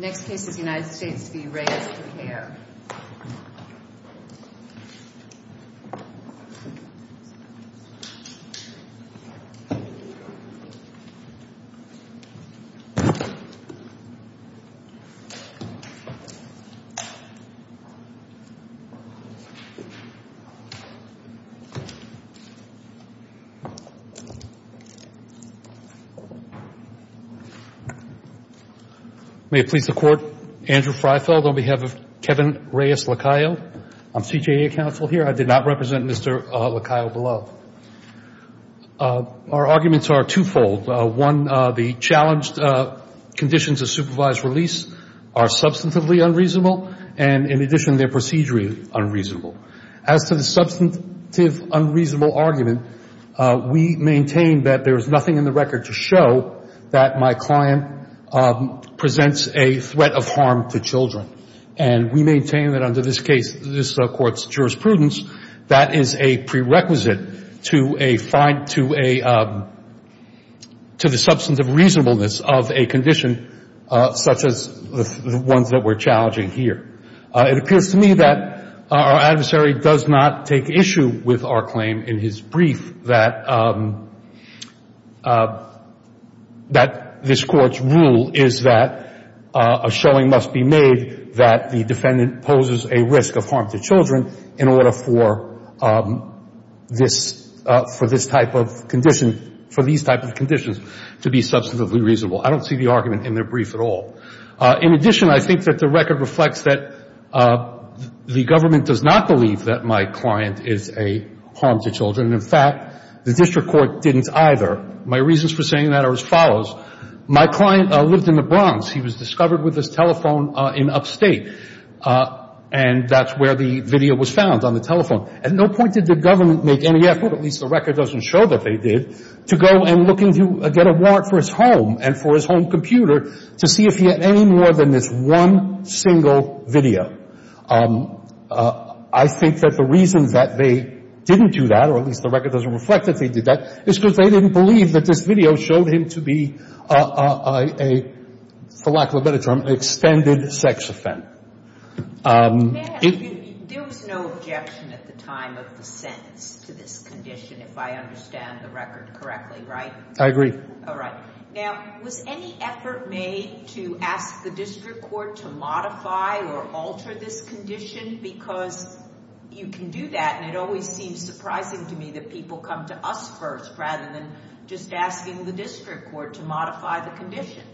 The arguments are two-fold. One, the challenged conditions of supervised release are substantively unreasonable, and in addition, their procedure is unreasonable. As to the substantive unreasonable argument, we maintain that there is nothing in the record to show that there has been a threat of harm to children. And we maintain that under this case, this Court's jurisprudence, that is a prerequisite to a fine to a, to the substantive reasonableness of a condition such as the ones that we're challenging here. It appears to me that our adversary does not take issue with our claim in his brief that, that this Court's rule is that a showing must be made that the defendant poses a risk of harm to children in order for this, for this type of condition, for these type of conditions to be substantively reasonable. I don't see the argument in their brief at all. In addition, I think that the record reflects that the government does not believe that my client is a harm to children. In fact, the district court didn't either. My reasons for saying that are as follows. My client lived in the Bronx. He was discovered with his telephone in upstate. And that's where the video was found, on the telephone. At no point did the government make any effort, at least the record doesn't show that they did, to go and looking to get a warrant for his home and for his home computer to see if he had any more than this one single video. I think that the reason that they didn't do that, or at least the record doesn't reflect that they did that, is because they didn't believe that this video showed him to be a, for lack of a better term, extended sex offender. There was no objection at the time of the sentence to this condition, if I understand the record correctly, right? I agree. All right. Now, was any effort made to ask the district court to modify or alter this condition? Because you can do that, and it always seems surprising to me that people come to us first, rather than just asking the district court to modify the condition.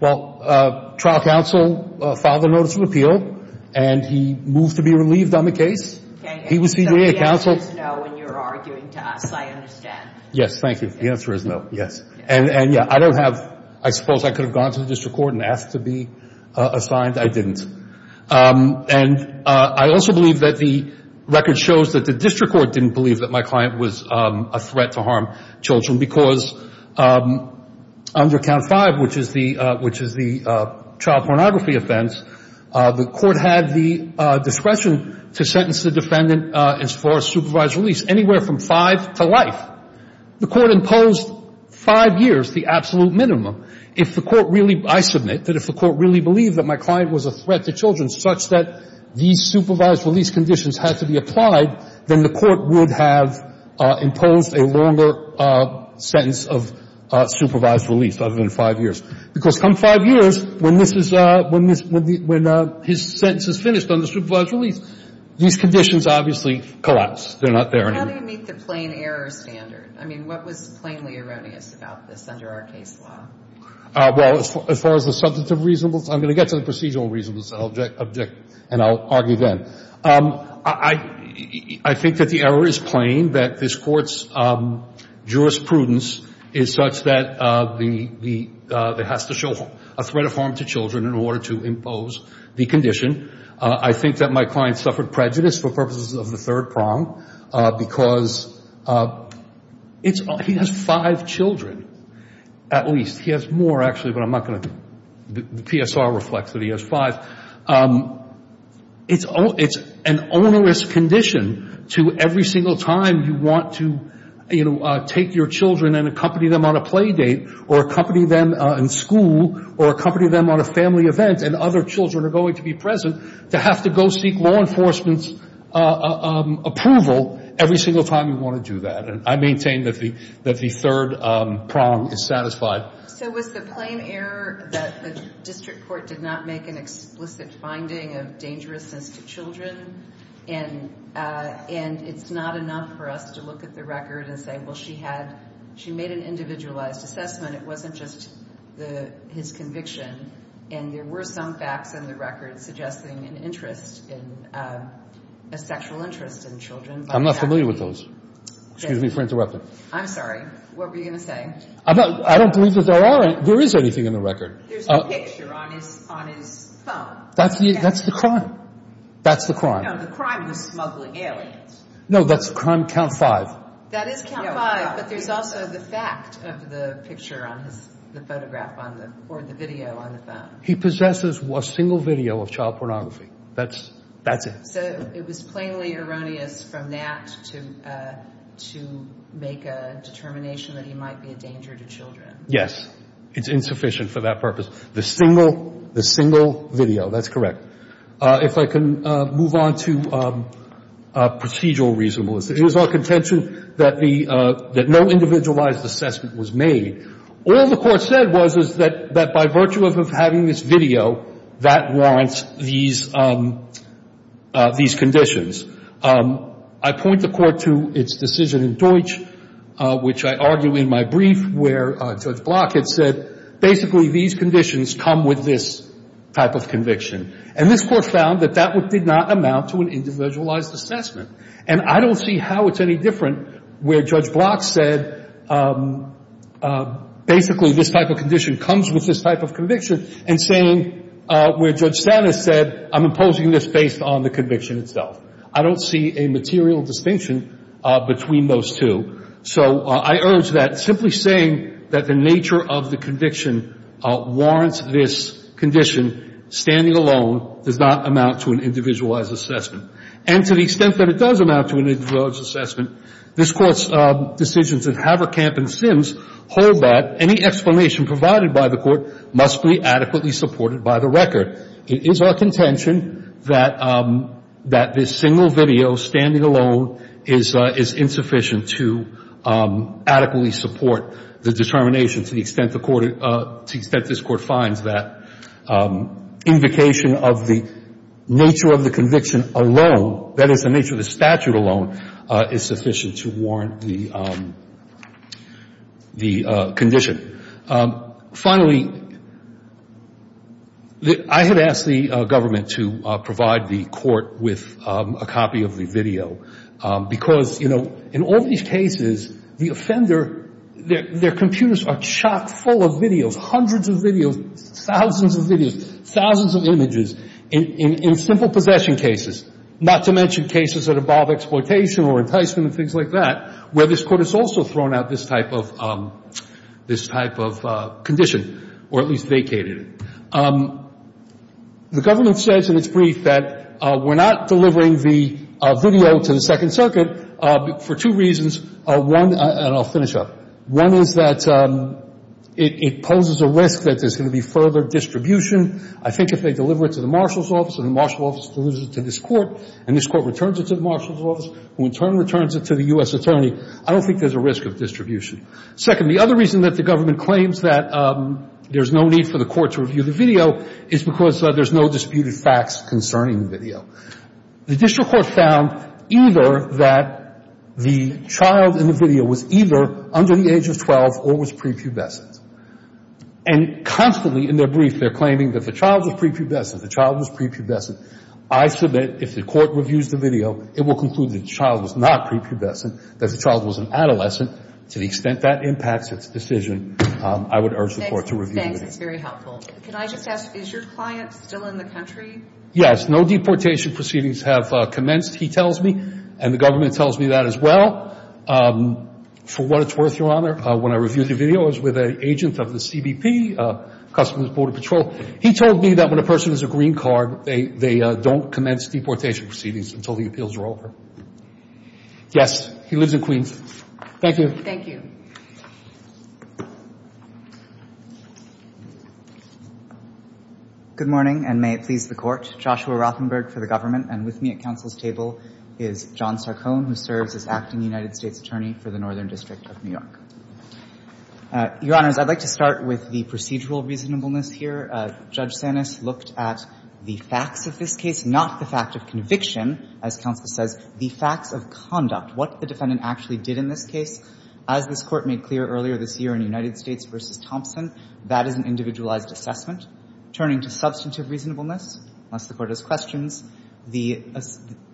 Well, trial counsel filed a notice of appeal, and he moved to be relieved on the case. Okay, and so the answer is no when you're arguing to us, I understand. Yes, thank you. The answer is no, yes. And yeah, I don't have, I suppose I could have gone to the district court and asked to be assigned. I didn't. And I also believe that the record shows that the district court didn't believe that my client was a threat to harm children, because under Count 5, which is the child pornography offense, the court had the discretion to sentence the defendant as far as supervised release, anywhere from 5 to life. The court imposed 5 years, the absolute minimum. If the court really, I submit, that if the court really believed that my client was a threat to children such that these supervised release conditions had to be applied, then the court would have imposed a longer sentence of supervised release, other than 5 years. Because come 5 years, when this is, when his sentence is finished under supervised release, these conditions obviously collapse. They're not there anymore. How do you meet the plain error standard? I mean, what was plainly erroneous about this under our case law? Well, as far as the substantive reasonableness, I'm going to get to the procedural reasonableness, and I'll argue then. I think that the error is plain, that this Court's jurisprudence is such that the, it has to show a threat of harm to children in order to impose the condition. I think that my client suffered prejudice for purposes of the third prong, because it's, he has 5 children, at least. He has more, actually, but I'm not going to, the PSR reflects that he has 5. It's an onerous condition to every single time you want to, you know, take your children and accompany them on a play date, or accompany them in school, or accompany them on a family event, and other children are going to be present, to have to go seek law enforcement's approval every single time you want to do that. And I maintain that the third prong is satisfied. So was the plain error that the district court did not make an explicit finding of dangerousness to children, and it's not enough for us to look at the record and say, well, she had, she made an individualized assessment. It wasn't just his conviction. And there were some facts in the record suggesting an interest in, a sexual interest in children. I'm not familiar with those. Excuse me for interrupting. I'm sorry. What were you going to say? I don't believe that there are, there is anything in the record. There's a picture on his phone. That's the, that's the crime. That's the crime. No, the crime was smuggling aliens. No, that's crime count 5. That is count 5, but there's also the fact of the picture on his, the photograph on the, or the video on the phone. He possesses a single video of child pornography. That's, that's it. So it was plainly erroneous from that to, to make a determination that he might be a danger to children. Yes. It's insufficient for that purpose. The single, the single video, that's correct. If I can move on to procedural reasonableness. It was our contention that the, that no individualized assessment was made. All the Court said was, is that, that by virtue of having this video, that warrants these, these conditions. I point the Court to its decision in Deutsch, which I argue in my brief, where Judge Block had said, basically these conditions come with this type of conviction. And this Court found that that did not amount to an individualized assessment. And I don't see how it's any different where Judge Block said, basically this type of condition comes with this type of conviction. And saying, where Judge Stata said, I'm imposing this based on the conviction itself. I don't see a material distinction between those two. So I urge that simply saying that the nature of the conviction warrants this condition, standing alone, does not amount to an individualized assessment. And to the extent that it does amount to an individualized assessment, this Court's decisions in Haverkamp and Sims hold that any explanation provided by the Court must be adequately supported by the record. It is our contention that, that this single video, standing alone, is insufficient to adequately support the determination to the extent the Court to the extent this Court finds that invocation of the nature of the conviction alone, that is, the nature of the statute alone, is sufficient to warrant the condition. Finally, I had asked the government to provide the Court with a copy of the video. Because, you know, in all these cases, the offender, their computers are chock full of videos, hundreds of videos, thousands of videos, thousands of images in simple possession cases, not to mention cases that involve exploitation or enticement and things like that, where this Court has also thrown out this type of condition or at least vacated it. The government says in its brief that we're not delivering the video to the Second Circuit for two reasons. One, and I'll finish up. One is that it poses a risk that there's going to be further distribution. I think if they deliver it to the marshal's office and the marshal's office delivers it to this Court, and this Court returns it to the marshal's office, who in turn returns it to the U.S. attorney, I don't think there's a risk of distribution. Second, the other reason that the government claims that there's no need for the video is because there's no disputed facts concerning the video. The district court found either that the child in the video was either under the age of 12 or was prepubescent. And constantly in their brief, they're claiming that the child was prepubescent, the child was prepubescent. I submit if the Court reviews the video, it will conclude that the child was not prepubescent, that the child was an adolescent. To the extent that impacts its decision, I would urge the Court to review the video. It's very helpful. Can I just ask, is your client still in the country? Yes. No deportation proceedings have commenced, he tells me, and the government tells me that as well. For what it's worth, Your Honor, when I reviewed the video, I was with an agent of the CBP, Customs and Border Patrol. He told me that when a person is a green card, they don't commence deportation proceedings until the appeals are over. Yes. He lives in Queens. Thank you. Thank you. Good morning, and may it please the Court. Joshua Rothenberg for the government. And with me at counsel's table is John Sarcone, who serves as acting United States attorney for the Northern District of New York. Your Honors, I'd like to start with the procedural reasonableness here. Judge Sanis looked at the facts of this case, not the fact of conviction, as counsel says, the facts of conduct, what the defendant actually did in this case. As this Court made clear earlier this year in United States v. Thompson, that is an individualized assessment. Turning to substantive reasonableness, unless the Court has questions, the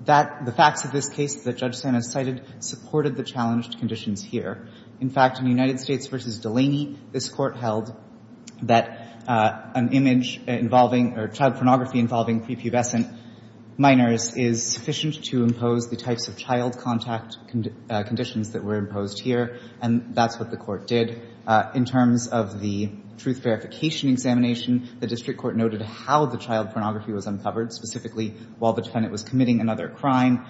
facts of this case that Judge Sanis cited supported the challenged conditions here. In fact, in United States v. Delaney, this Court held that an image involving or child pornography involving prepubescent minors is sufficient to impose the types of child contact conditions that were imposed here, and that's what the Court did. In terms of the truth verification examination, the District Court noted how the child pornography was uncovered, specifically while the defendant was committing another crime.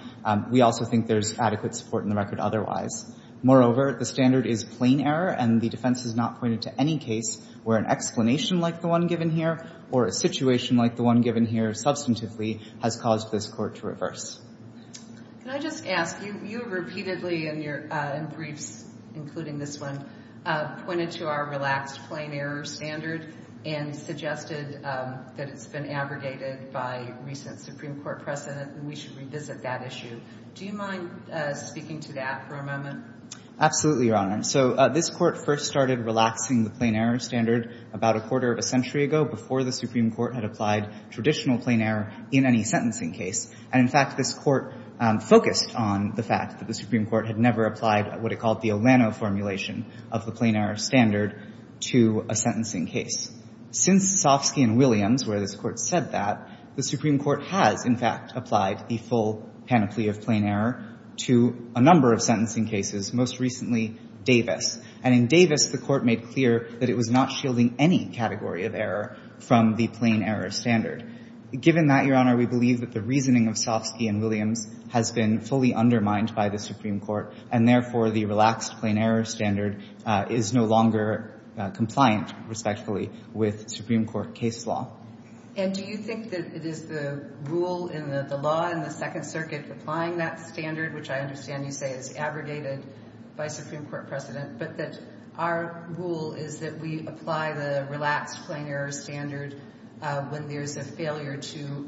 We also think there's adequate support in the record otherwise. Moreover, the standard is plain error, and the defense has not pointed to any case where an explanation like the one given here or a situation like the one given here substantively has caused this Court to reverse. Can I just ask, you repeatedly in your briefs, including this one, pointed to our relaxed plain error standard and suggested that it's been abrogated by recent Supreme Court precedent and we should revisit that issue. Do you mind speaking to that for a moment? Absolutely, Your Honor. So this Court first started relaxing the plain error standard about a quarter of a century ago before the Supreme Court had applied traditional plain error in any case, and this Court focused on the fact that the Supreme Court had never applied what it called the Olano formulation of the plain error standard to a sentencing case. Since Sofsky and Williams, where this Court said that, the Supreme Court has, in fact, applied the full panoply of plain error to a number of sentencing cases, most recently Davis. And in Davis, the Court made clear that it was not shielding any category of error from the plain error standard. Given that, Your Honor, we believe that the reasoning of Sofsky and Williams has been fully undermined by the Supreme Court, and therefore the relaxed plain error standard is no longer compliant, respectfully, with Supreme Court case law. And do you think that it is the rule in the law in the Second Circuit applying that standard, which I understand you say is abrogated by Supreme Court precedent, but that our rule is that we apply the relaxed plain error standard when there's a failure to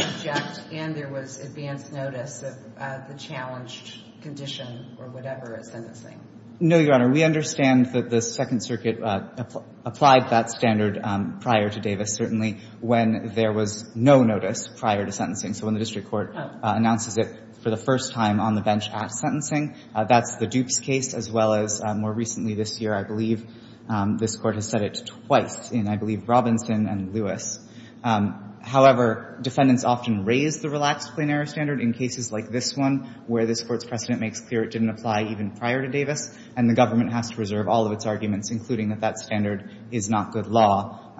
object and there was advanced notice of the challenged condition or whatever at sentencing? No, Your Honor. We understand that the Second Circuit applied that standard prior to Davis, certainly, when there was no notice prior to sentencing. So when the district court announces it for the first time on the bench at sentencing, that's the Dukes case, as well as more recently this year, I believe, this Court has said it twice in, I believe, Robinson and Lewis. However, defendants often raise the relaxed plain error standard in cases like this one, where this Court's precedent makes clear it didn't apply even prior to Davis, and the government has to reserve all of its arguments, including that that standard is not good law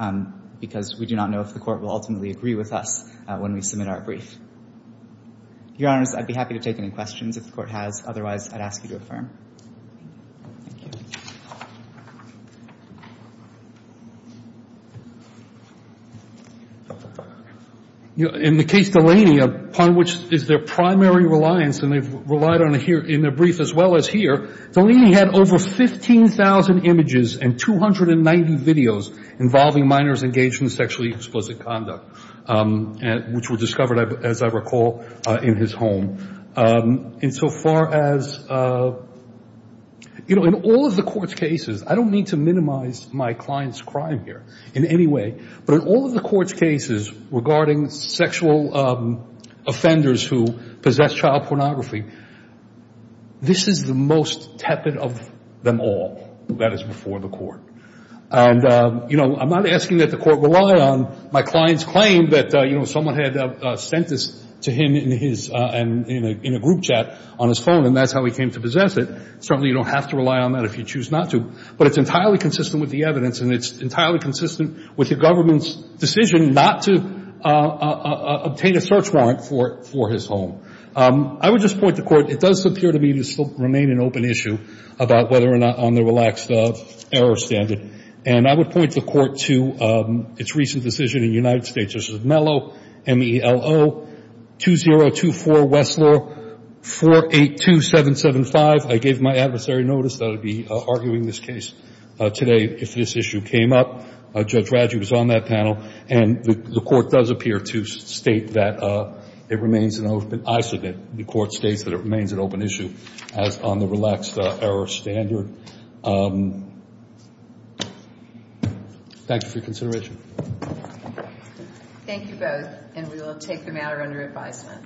because we do not know if the Court will ultimately agree with us when we submit our brief. Your Honors, I'd be happy to take any questions if the Court has. Otherwise, I'd ask you to affirm. Thank you. In the case Delaney, upon which is their primary reliance, and they've relied on it in their brief as well as here, Delaney had over 15,000 images and 290 videos involving minors engaged in sexually explicit conduct, which were discovered, as I recall, in his home. And so far as, you know, in all of the Court's cases, I don't mean to minimize my client's crime here in any way, but in all of the Court's cases regarding sexual offenders who possess child pornography, this is the most tepid of them all. That is before the Court. And, you know, I'm not asking that the Court rely on my client's claim that, you know, someone had sent this to him in a group chat on his phone, and that's how he came to possess it. Certainly you don't have to rely on that if you choose not to. But it's entirely consistent with the evidence, and it's entirely consistent with the government's decision not to obtain a search warrant for his home. I would just point the Court, it does appear to me to still remain an open issue about whether or not on the relaxed error standard. And I would point the Court to its recent decision in the United States. This is Mello, M-E-L-O, 2024 Westlaw, 482775. I gave my adversary notice that I would be arguing this case today if this issue came up. Judge Raggi was on that panel. And the Court does appear to state that it remains an open issue. The Court states that it remains an open issue as on the relaxed error standard. Thank you for your consideration. Thank you both. And we will take the matter under advisement.